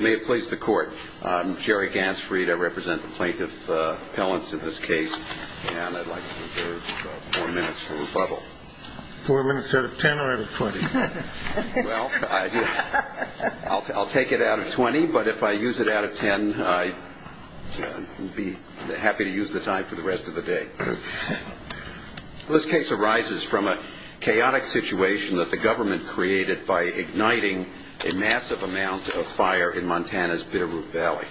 May it please the court. I'm Jerry Gansfried. I represent the plaintiff appellants in this case, and I'd like to reserve four minutes for rebuttal. Four minutes out of ten or out of twenty? Well, I'll take it out of twenty, but if I use it out of ten, I'd be happy to use the time for the rest of the day. This case arises from a chaotic situation that the government created by igniting a massive amount of fire in Montana's Bitterroot Valley.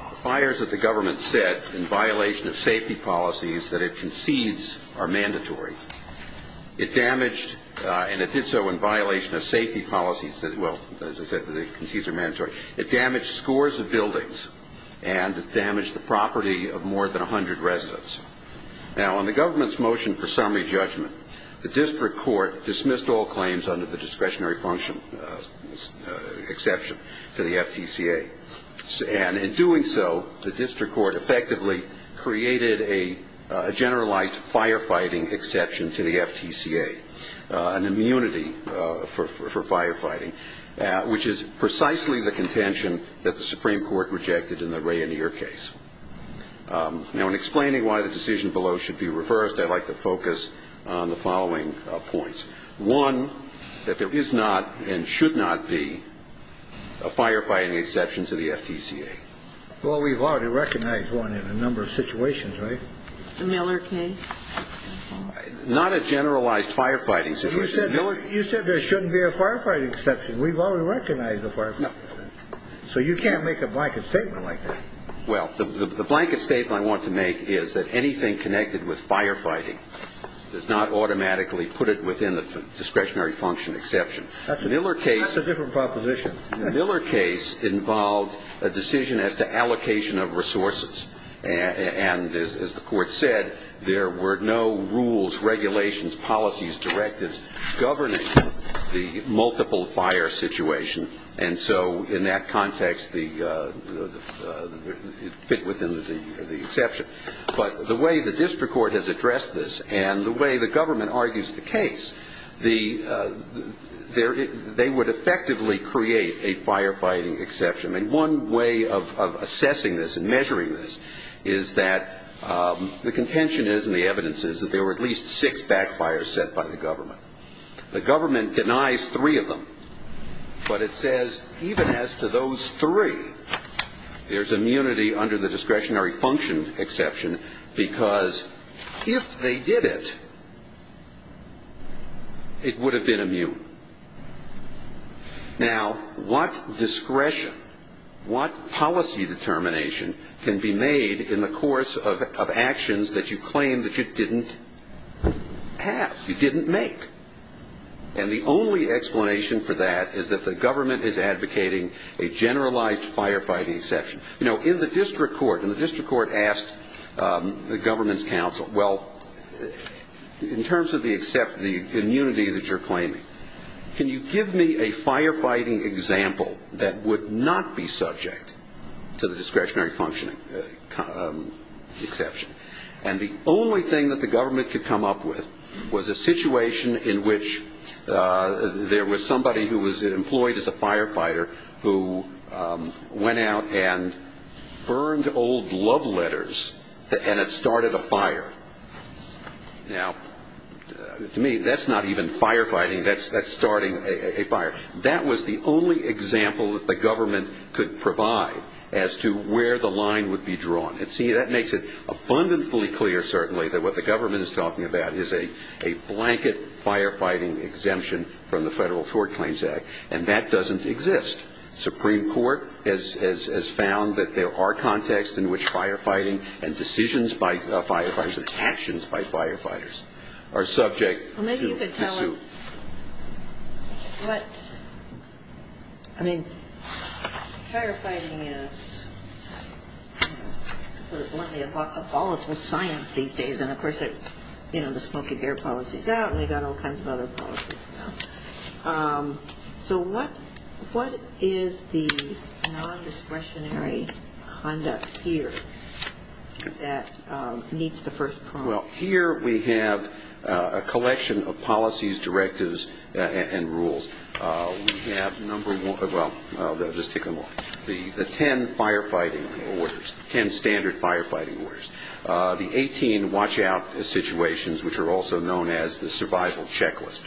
The fires that the government set in violation of safety policies that it concedes are mandatory. It damaged, and it did so in violation of safety policies that, well, as I said, that it concedes are mandatory. It damaged scores of buildings, and it damaged the property of more than 100 residents. Now, on the government's motion for summary judgment, the district court dismissed all claims under the discretionary function exception to the FTCA. And in doing so, the district court effectively created a generalized firefighting exception to the FTCA, an immunity for firefighting, which is precisely the contention that the Supreme Court rejected in the Rainier case. Now, in explaining why the decision below should be reversed, I'd like to focus on the following points. One, that there is not and should not be a firefighting exception to the FTCA. Well, we've already recognized one in a number of situations, right? The Miller case? Not a generalized firefighting situation. You said there shouldn't be a firefighting exception. We've already recognized a firefighting exception. So you can't make a blanket statement like that. Well, the blanket statement I want to make is that anything connected with firefighting does not automatically put it within the discretionary function exception. That's a different proposition. And as the Court said, there were no rules, regulations, policies, directives governing the multiple-fire situation. And so in that context, it fit within the exception. But the way the district court has addressed this and the way the government argues the case, they would effectively create a firefighting exception. And one way of assessing this and measuring this is that the contention is and the evidence is that there were at least six backfires set by the government. The government denies three of them. But it says even as to those three, there's immunity under the discretionary function exception because if they did it, it would have been immune. Now, what discretion, what policy determination can be made in the course of actions that you claim that you didn't have, you didn't make? And the only explanation for that is that the government is advocating a generalized firefighting exception. You know, in the district court, and the district court asked the government's counsel, well, in terms of the immunity that you're claiming, can you give me a firefighting example that would not be subject to the discretionary function exception? And the only thing that the government could come up with was a situation in which there was somebody who was employed as a firefighter who went out and burned old love letters, and it started a fire. Now, to me, that's not even firefighting. That's starting a fire. That was the only example that the government could provide as to where the line would be drawn. And, see, that makes it abundantly clear, certainly, that what the government is talking about is a blanket firefighting exemption from the Federal Tort Claims Act, and that doesn't exist. Supreme Court has found that there are contexts in which firefighting and decisions by firefighters and actions by firefighters are subject to suit. Well, maybe you could tell us what, I mean, firefighting is, I put it bluntly, a volatile science these days, and, of course, you know, the smoking air policy is out, and they've got all kinds of other policies now. So what is the non-discretionary conduct here that meets the first problem? Well, here we have a collection of policies, directives, and rules. We have number one, well, just take a look, the ten firefighting orders, ten standard firefighting orders, the 18 watch-out situations, which are also known as the survival checklist.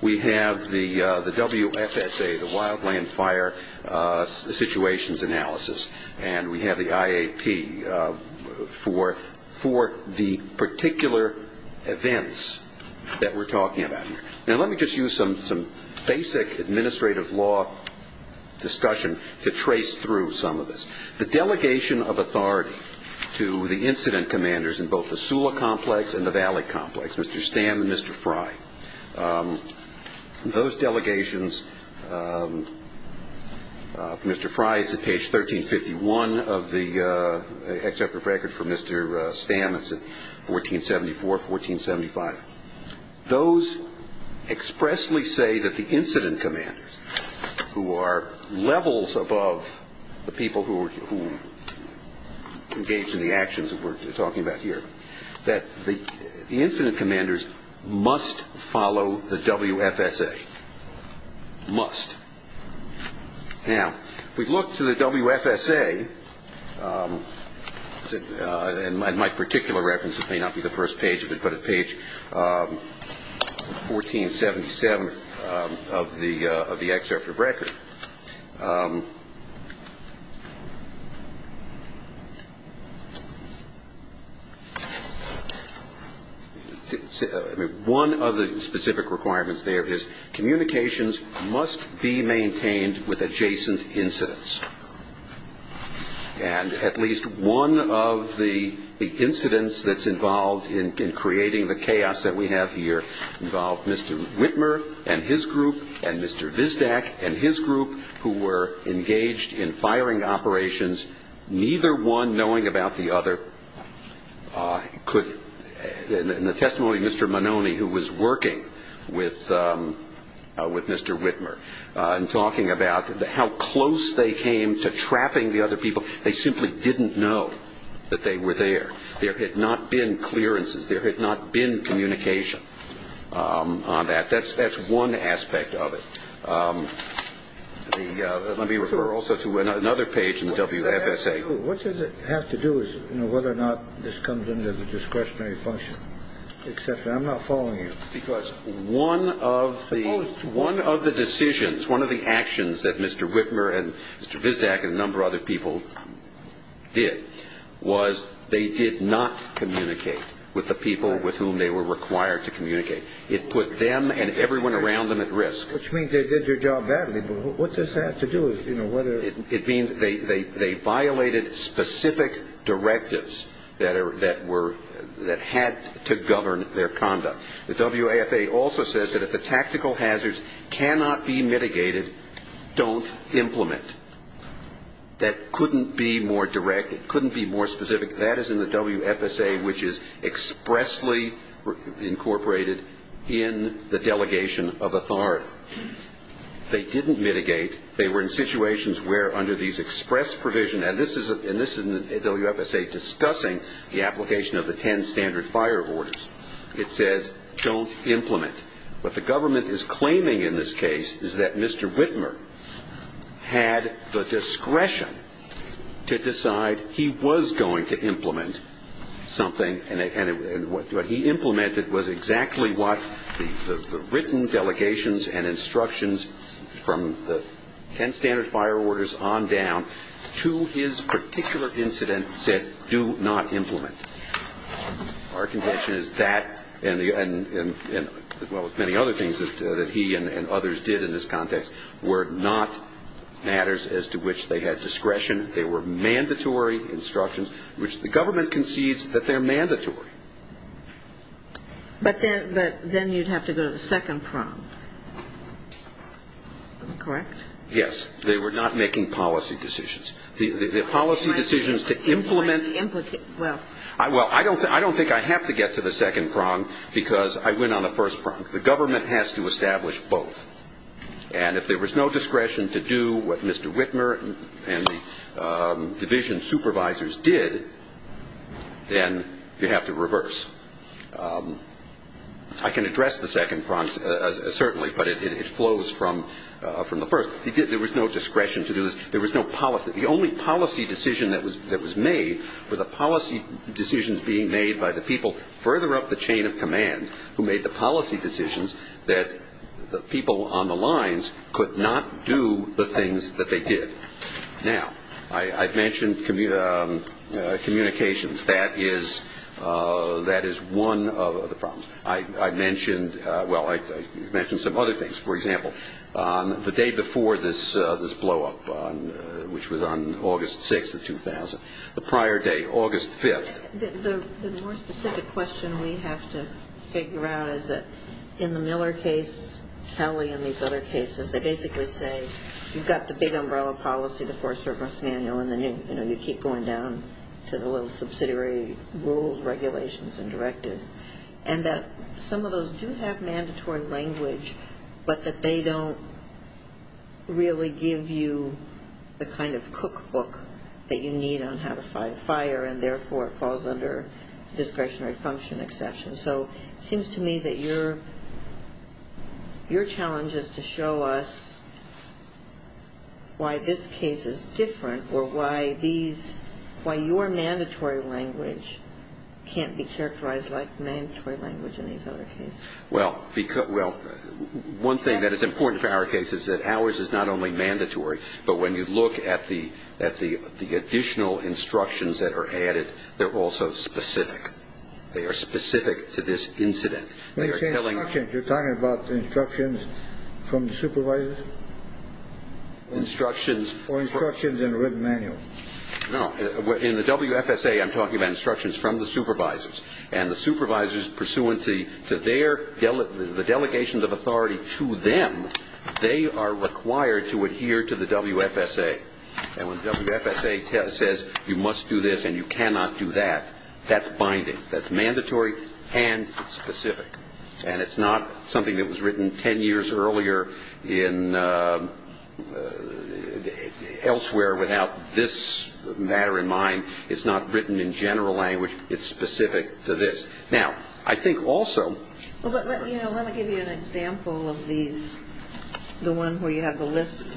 We have the WFSA, the wildland fire situations analysis, and we have the IAP for the particular events that we're talking about here. Now, let me just use some basic administrative law discussion to trace through some of this. The delegation of authority to the incident commanders in both the Sula Complex and the Valley Complex, Mr. Stamm and Mr. Fry, those delegations, Mr. Fry is at page 1351 of the executive record for Mr. Stamm, that's at 1474, 1475, those expressly say that the incident commanders, who are levels above the people who engage in the actions that we're talking about here, that the incident commanders must follow the WFSA, must. Now, if we look to the WFSA, in my particular reference, it may not be the first page, but at page 1477 of the executive record, one of the specific requirements there is communications must be maintained with adjacent incidents. And at least one of the incidents that's involved in creating the chaos that we have here involved Mr. Whitmer and his group and Mr. Vizdak and his group who were engaged in firing operations, neither one knowing about the other. In the testimony of Mr. Mononi, who was working with Mr. Whitmer, and talking about how close they came to trapping the other people, they simply didn't know that they were there. There had not been clearances. There had not been communication on that. That's one aspect of it. Let me refer also to another page in the WFSA. What does it have to do with whether or not this comes under the discretionary function? I'm not following you. Because one of the decisions, one of the actions that Mr. Whitmer and Mr. Vizdak and a number of other people did was they did not communicate with the people with whom they were required to communicate. It put them and everyone around them at risk. Which means they did their job badly. But what does that have to do with, you know, whether or not? It means they violated specific directives that had to govern their conduct. The WFSA also says that if the tactical hazards cannot be mitigated, don't implement. That couldn't be more direct. It couldn't be more specific. That is in the WFSA, which is expressly incorporated in the delegation of authority. They didn't mitigate. They were in situations where under these express provisions, and this is in the WFSA discussing the application of the ten standard fire orders. It says don't implement. What the government is claiming in this case is that Mr. Whitmer had the discretion to decide he was going to implement something, and what he implemented was exactly what the written delegations and instructions from the ten standard fire orders on down to his particular incident said do not implement. Our convention is that and as well as many other things that he and others did in this context were not matters as to which they had discretion. They were mandatory instructions, which the government concedes that they're mandatory. But then you'd have to go to the second prong. Correct? Yes. They were not making policy decisions. The policy decisions to implement. Well, I don't think I have to get to the second prong because I went on the first prong. The government has to establish both. And if there was no discretion to do what Mr. Whitmer and the division supervisors did, then you have to reverse. I can address the second prong certainly, but it flows from the first. There was no discretion to do this. There was no policy. The only policy decision that was made were the policy decisions being made by the people further up the chain of command who made the policy decisions that the people on the lines could not do the things that they did. Now, I mentioned communications. That is one of the problems. I mentioned some other things. For example, the day before this blowup, which was on August 6th of 2000, the prior day, August 5th. The more specific question we have to figure out is that in the Miller case, Kelly, and these other cases, they basically say you've got the big umbrella policy, the four-service manual, and then you keep going down to the little subsidiary rules, regulations, and directives. And that some of those do have mandatory language, but that they don't really give you the kind of cookbook that you need on how to fight a fire, and therefore it falls under discretionary function exception. So it seems to me that your challenge is to show us why this case is different or why your mandatory language can't be characterized like mandatory language in these other cases. Well, one thing that is important for our case is that ours is not only mandatory, but when you look at the additional instructions that are added, they're also specific. They are specific to this incident. When you say instructions, you're talking about instructions from the supervisors? Instructions. Or instructions in a written manual. No. In the WFSA, I'm talking about instructions from the supervisors. And the supervisors, pursuant to the delegations of authority to them, they are required to adhere to the WFSA. And when the WFSA says you must do this and you cannot do that, that's binding. That's mandatory and specific. And it's not something that was written 10 years earlier elsewhere without this matter in mind. It's not written in general language. It's specific to this. Now, I think also ---- Well, let me give you an example of these, the one where you have the list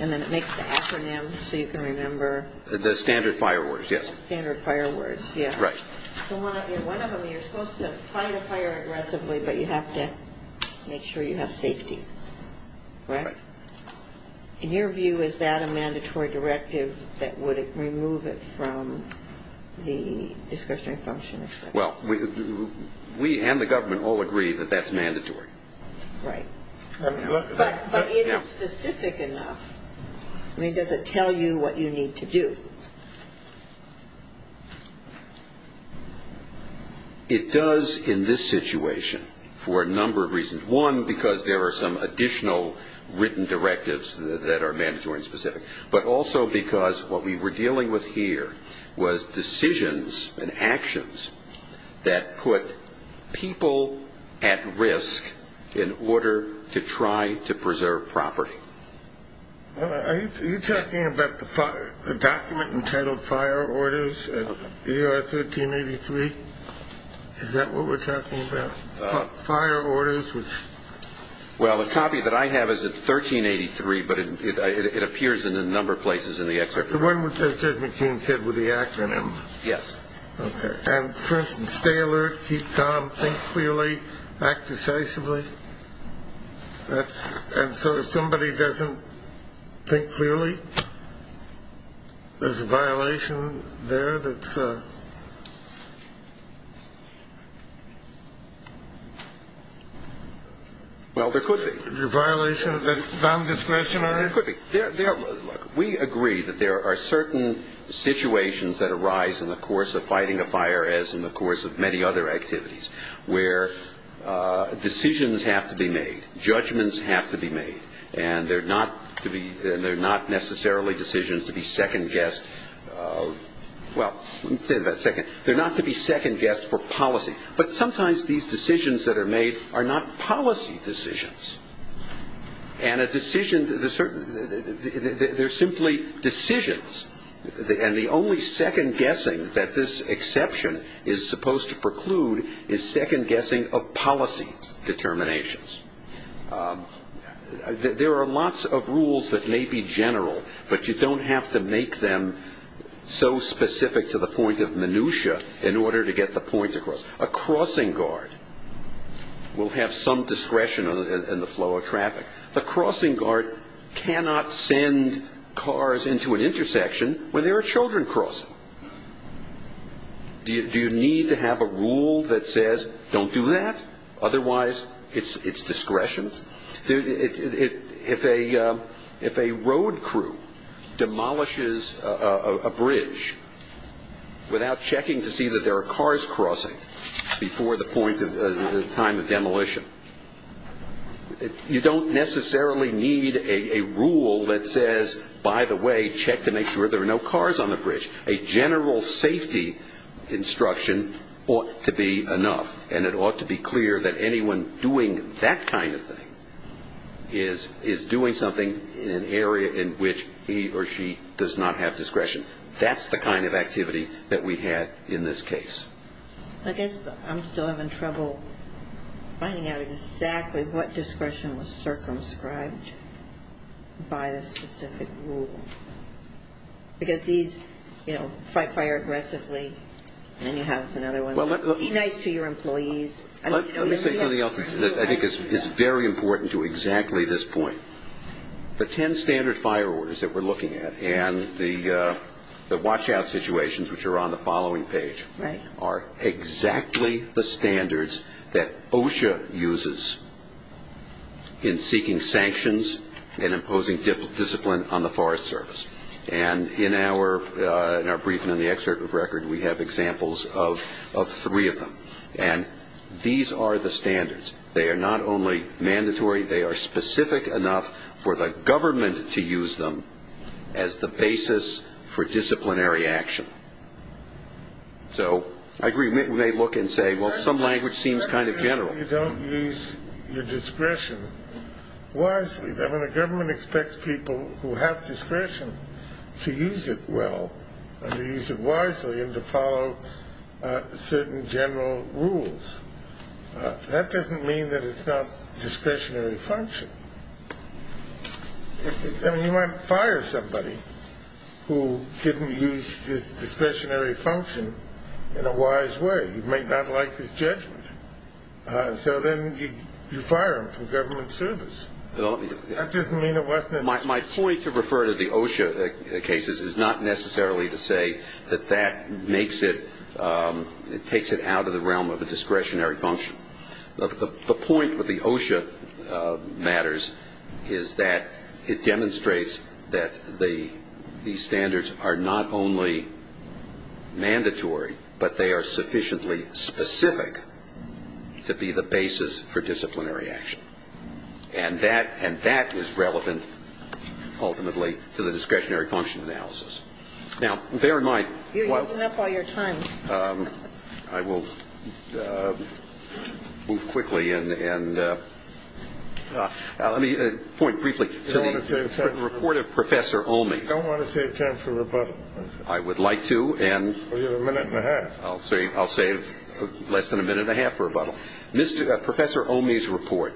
and then it makes the acronym so you can remember. The standard fire words, yes. The standard fire words, yes. Right. So one of them, you're supposed to fight a fire aggressively, but you have to make sure you have safety. Right? Right. In your view, is that a mandatory directive that would remove it from the discretionary function? Well, we and the government all agree that that's mandatory. Right. But is it specific enough? I mean, does it tell you what you need to do? It does in this situation for a number of reasons. One, because there are some additional written directives that are mandatory and specific, but also because what we were dealing with here was decisions and actions that put people at risk in order to try to preserve property. Are you talking about the document entitled Fire Orders in ER 1383? Is that what we're talking about, fire orders? Well, the copy that I have is at 1383, but it appears in a number of places in the excerpt. The one with Judge McCain's head with the acronym? Yes. Okay. And, for instance, stay alert, keep calm, think clearly, act decisively. And so if somebody doesn't think clearly, there's a violation there that's a... Well, there could be. A violation that's non-discretionary? There could be. Look, we agree that there are certain situations that arise in the course of fighting a fire, as in the course of many other activities, where decisions have to be made, judgments have to be made, and they're not necessarily decisions to be second-guessed. Well, let me say that a second. They're not to be second-guessed for policy, but sometimes these decisions that are made are not policy decisions. And a decision, there's simply decisions, and the only second-guessing that this exception is supposed to preclude is second-guessing of policy determinations. There are lots of rules that may be general, but you don't have to make them so specific to the point of minutia in order to get the point across. A crossing guard will have some discretion in the flow of traffic. A crossing guard cannot send cars into an intersection when there are children crossing. Do you need to have a rule that says don't do that? Otherwise, it's discretion. If a road crew demolishes a bridge without checking to see that there are cars crossing before the point of time of demolition, you don't necessarily need a rule that says, by the way, check to make sure there are no cars on the bridge. A general safety instruction ought to be enough, and it ought to be clear that anyone doing that kind of thing is doing something in an area in which he or she does not have discretion. That's the kind of activity that we had in this case. I guess I'm still having trouble finding out exactly what discretion was circumscribed by the specific rule. Because these, you know, fire aggressively, and then you have another one. Be nice to your employees. Let me say something else that I think is very important to exactly this point. The ten standard fire orders that we're looking at and the watch out situations, which are on the following page, are exactly the standards that OSHA uses in seeking sanctions and imposing discipline on the Forest Service. And in our briefing in the excerpt of record, we have examples of three of them. And these are the standards. They are not only mandatory, they are specific enough for the government to use them as the basis for disciplinary action. So I agree. We may look and say, well, some language seems kind of general. You don't use your discretion wisely. I mean, the government expects people who have discretion to use it well and to use it wisely and to follow certain general rules. That doesn't mean that it's not discretionary function. I mean, you might fire somebody who didn't use his discretionary function in a wise way. He might not like his judgment. So then you fire him from government service. That doesn't mean it wasn't. My point to refer to the OSHA cases is not necessarily to say that that makes it, it takes it out of the realm of a discretionary function. The point with the OSHA matters is that it demonstrates that these standards are not only mandatory, but they are sufficiently specific to be the basis for disciplinary action. And that is relevant ultimately to the discretionary function analysis. Now, bear in mind. You're using up all your time. I will move quickly. And let me point briefly to the report of Professor Omi. You don't want to save time for rebuttal. I would like to. Well, you have a minute and a half. I'll save less than a minute and a half for rebuttal. Professor Omi's report,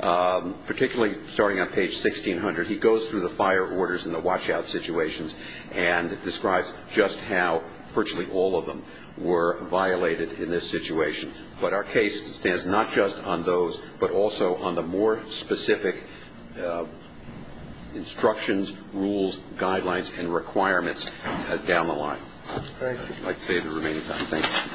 particularly starting on page 1600, he goes through the fire orders and the watch-out situations and describes just how virtually all of them were violated in this situation. But our case stands not just on those, but also on the more specific instructions, rules, guidelines, and requirements down the line. Thank you. I'd like to save the remaining time. Thank you.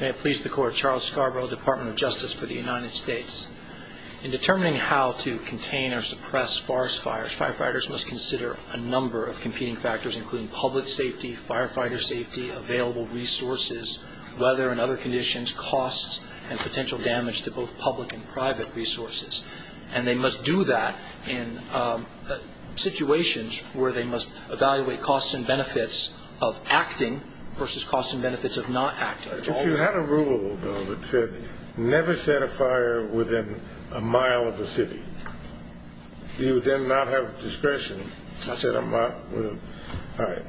May it please the Court. Charles Scarborough, Department of Justice for the United States. In determining how to contain or suppress forest fires, firefighters must consider a number of competing factors, including public safety, firefighter safety, available resources, weather and other conditions, costs, and potential damage to both public and private resources. And they must do that in situations where they must evaluate costs and benefits of acting versus costs and benefits of not acting. If you had a rule, though, that said never set a fire within a mile of a city, you would then not have discretion to set a mile with a fire.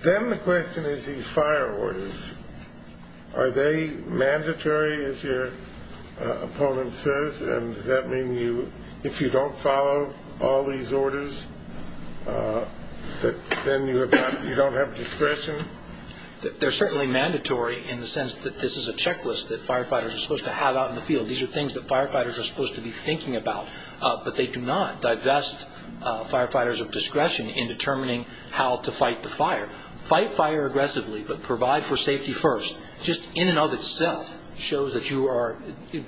Then the question is these fire orders, are they mandatory, as your opponent says, and does that mean if you don't follow all these orders, then you don't have discretion? They're certainly mandatory in the sense that this is a checklist that firefighters are supposed to have out in the field. These are things that firefighters are supposed to be thinking about, but they do not divest firefighters of discretion in determining how to fight the fire. Fight fire aggressively, but provide for safety first just in and of itself shows that you are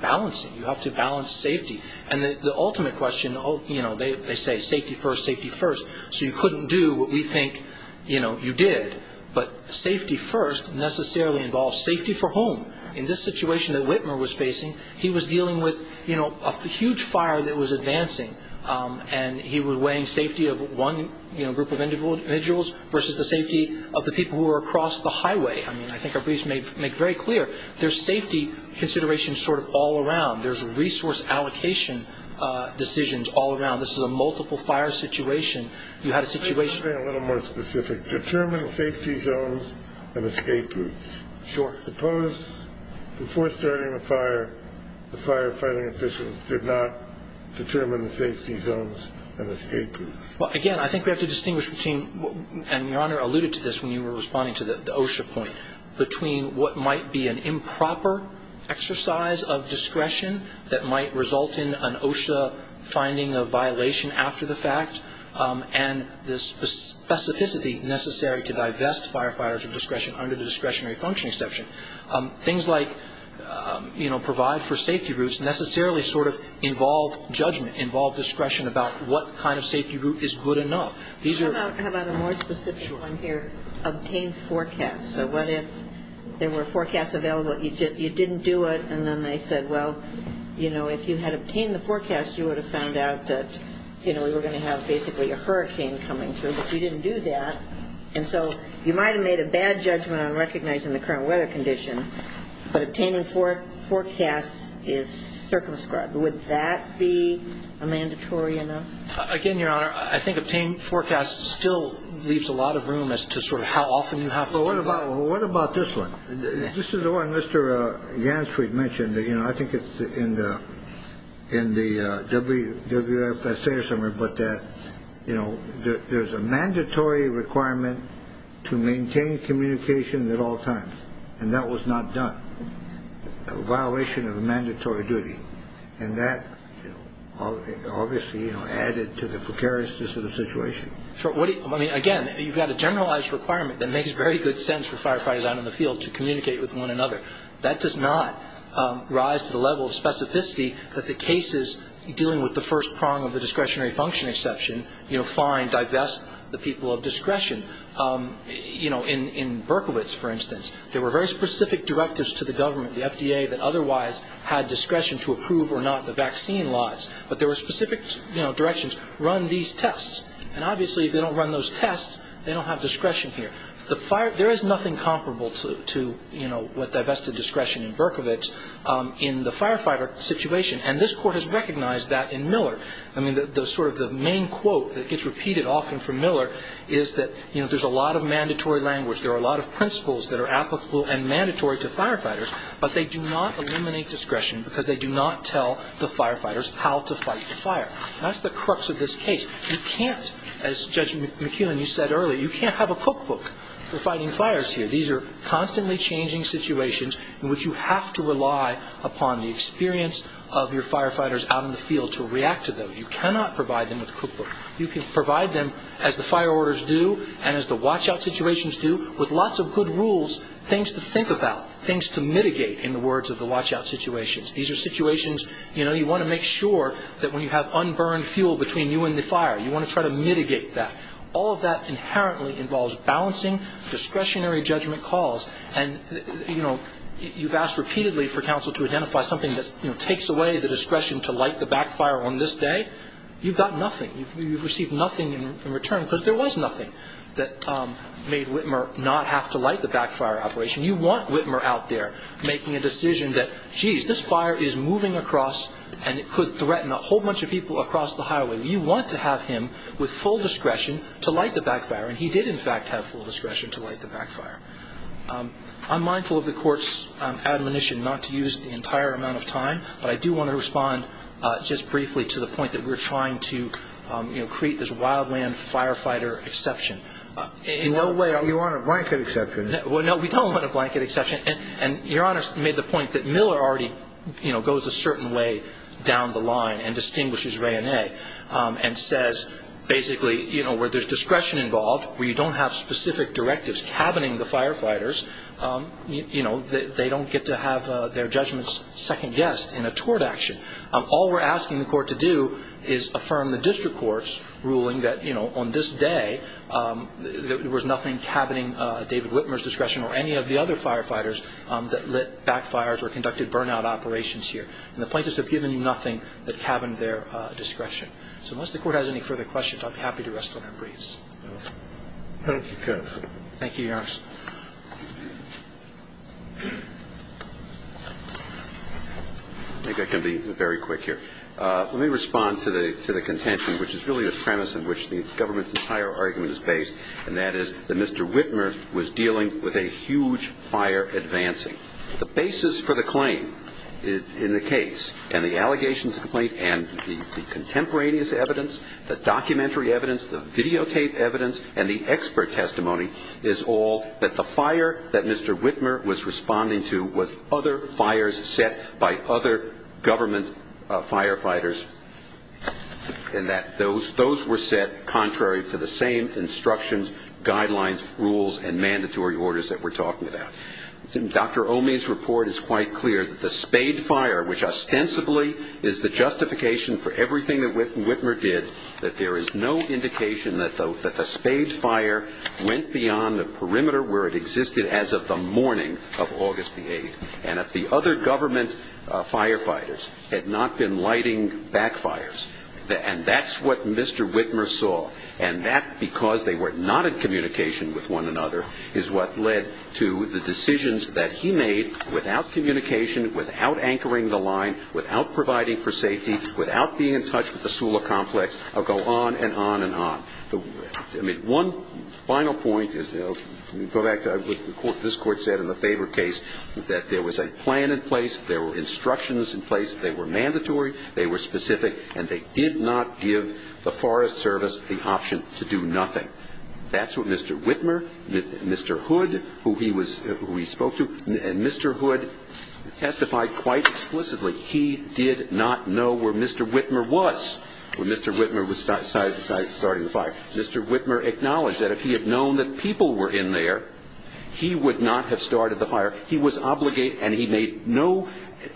balancing. You have to balance safety. And the ultimate question, you know, they say safety first, safety first, so you couldn't do what we think you did, but safety first necessarily involves safety for whom? In this situation that Whitmer was facing, he was dealing with a huge fire that was advancing, and he was weighing safety of one group of individuals versus the safety of the people who were across the highway. I mean, I think our briefs make very clear there's safety considerations sort of all around. There's resource allocation decisions all around. This is a multiple fire situation. You had a situation. Can you say something a little more specific? Determine safety zones and escape routes. Sure. Suppose before starting the fire, the firefighting officials did not determine the safety zones and escape routes. Well, again, I think we have to distinguish between, and Your Honor alluded to this when you were responding to the OSHA point, between what might be an improper exercise of discretion that might result in an OSHA finding of violation after the fact, and the specificity necessary to divest firefighters of discretion under the discretionary function exception. Things like, you know, provide for safety routes necessarily sort of involve judgment, involve discretion about what kind of safety route is good enough. How about a more specific one here? Sure. Obtain forecasts. So what if there were forecasts available, you didn't do it, and then they said, well, you know, if you had obtained the forecast, you would have found out that, you know, we were going to have basically a hurricane coming through, but you didn't do that. And so you might have made a bad judgment on recognizing the current weather condition, but obtaining forecasts is circumscribed. Would that be a mandatory enough? Again, Your Honor, I think obtain forecasts still leaves a lot of room as to sort of how often you have to do that. What about this one? This is the one Mr. Gansfried mentioned. You know, I think it's in the WFSA or something, but that, you know, there's a mandatory requirement to maintain communication at all times, and that was not done, a violation of a mandatory duty. And that obviously, you know, added to the precariousness of the situation. Sure. I mean, again, you've got a generalized requirement that makes very good sense for firefighters out in the field to communicate with one another. That does not rise to the level of specificity that the cases dealing with the first prong of the discretionary function exception, you know, find, divest the people of discretion. You know, in Berkowitz, for instance, there were very specific directives to the government, the FDA that otherwise had discretion to approve or not the vaccine laws, but there were specific, you know, directions, run these tests, and obviously if they don't run those tests, they don't have discretion here. There is nothing comparable to, you know, what divested discretion in Berkowitz in the firefighter situation, and this Court has recognized that in Miller. I mean, sort of the main quote that gets repeated often from Miller is that, you know, there's a lot of mandatory language. There are a lot of principles that are applicable and mandatory to firefighters, but they do not eliminate discretion because they do not tell the firefighters how to fight the fire. That's the crux of this case. You can't, as Judge McKeown, you said earlier, you can't have a cookbook for fighting fires here. These are constantly changing situations in which you have to rely upon the experience of your firefighters out in the field to react to those. You cannot provide them with a cookbook. You can provide them, as the fire orders do and as the watch-out situations do, with lots of good rules, things to think about, things to mitigate, in the words of the watch-out situations. These are situations, you know, you want to make sure that when you have unburned fuel between you and the fire, you want to try to mitigate that. All of that inherently involves balancing discretionary judgment calls, and, you know, you've asked repeatedly for counsel to identify something that, you know, takes away the discretion to light the backfire on this day. You've got nothing. You've received nothing in return because there was nothing that made Whitmer not have to light the backfire operation. You want Whitmer out there making a decision that, geez, this fire is moving across and it could threaten a whole bunch of people across the highway. You want to have him with full discretion to light the backfire, and he did, in fact, have full discretion to light the backfire. I'm mindful of the Court's admonition not to use the entire amount of time, but I do want to respond just briefly to the point that we're trying to, you know, create this wildland firefighter exception. In no way are we on a blanket exception. Well, no, we don't want a blanket exception, and Your Honor made the point that Miller already, you know, goes a certain way down the line and distinguishes Ray and A, and says basically, you know, where there's discretion involved, where you don't have specific directives cabining the firefighters, you know, they don't get to have their judgments second-guessed in a tort action. All we're asking the Court to do is affirm the district court's ruling that, you know, on this day there was nothing cabining David Whitmer's discretion or any of the other firefighters that lit backfires or conducted burnout operations here. And the plaintiffs have given you nothing that cabined their discretion. So unless the Court has any further questions, I'd be happy to rest on our breaths. Thank you, counsel. Thank you, Your Honor. I think I can be very quick here. Let me respond to the contention, which is really the premise in which the government's entire argument is based, and that is that Mr. Whitmer was dealing with a huge fire advancing. The basis for the claim in the case and the allegations complaint and the contemporaneous evidence, the documentary evidence, the videotape evidence, and the expert testimony is all that the fire that Mr. Whitmer was responding to was other fires set by other government firefighters, and that those were set contrary to the same instructions, guidelines, rules, and mandatory orders that we're talking about. Dr. Omey's report is quite clear that the Spade Fire, which ostensibly is the justification for everything that Whitmer did, that there is no indication that the Spade Fire went beyond the perimeter where it existed as of the morning of August the 8th, and that the other government firefighters had not been lighting backfires. And that's what Mr. Whitmer saw, and that because they were not in communication with one another is what led to the decisions that he made without communication, without anchoring the line, without providing for safety, without being in touch with the Sula complex. I'll go on and on and on. I mean, one final point is, go back to what this Court said in the Faber case, is that there was a plan in place, there were instructions in place, they were mandatory, they were specific, and they did not give the Forest Service the option to do nothing. That's what Mr. Whitmer, Mr. Hood, who he was – who he spoke to, and Mr. Hood testified quite explicitly. He did not know where Mr. Whitmer was when Mr. Whitmer decided to start the fire. Mr. Whitmer acknowledged that if he had known that people were in there, he would not have started the fire. He was obligated, and he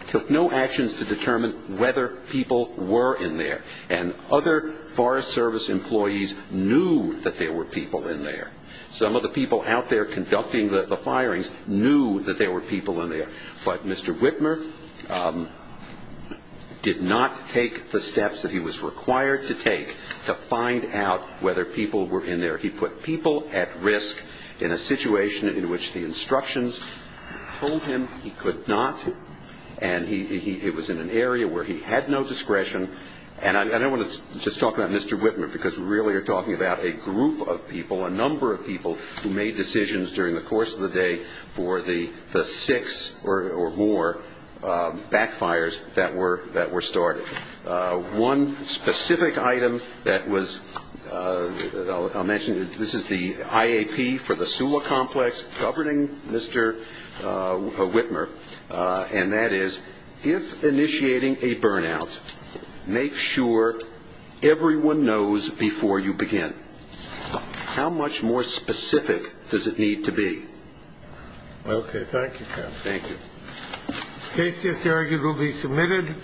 took no actions to determine whether people were in there. And other Forest Service employees knew that there were people in there. Some of the people out there conducting the firings knew that there were people in there. But Mr. Whitmer did not take the steps that he was required to take to find out whether people were in there. He put people at risk in a situation in which the instructions told him he could not, and he – it was in an area where he had no discretion. And I don't want to just talk about Mr. Whitmer, because we really are talking about a group of people, a number of people who made decisions during the course of the day for the six or more backfires that were started. One specific item that was – I'll mention, this is the IAP for the SULA complex, governing Mr. Whitmer, and that is, if initiating a burnout, make sure everyone knows before you begin. How much more specific does it need to be? Okay. Thank you, Kevin. Thank you. Cases here will be submitted.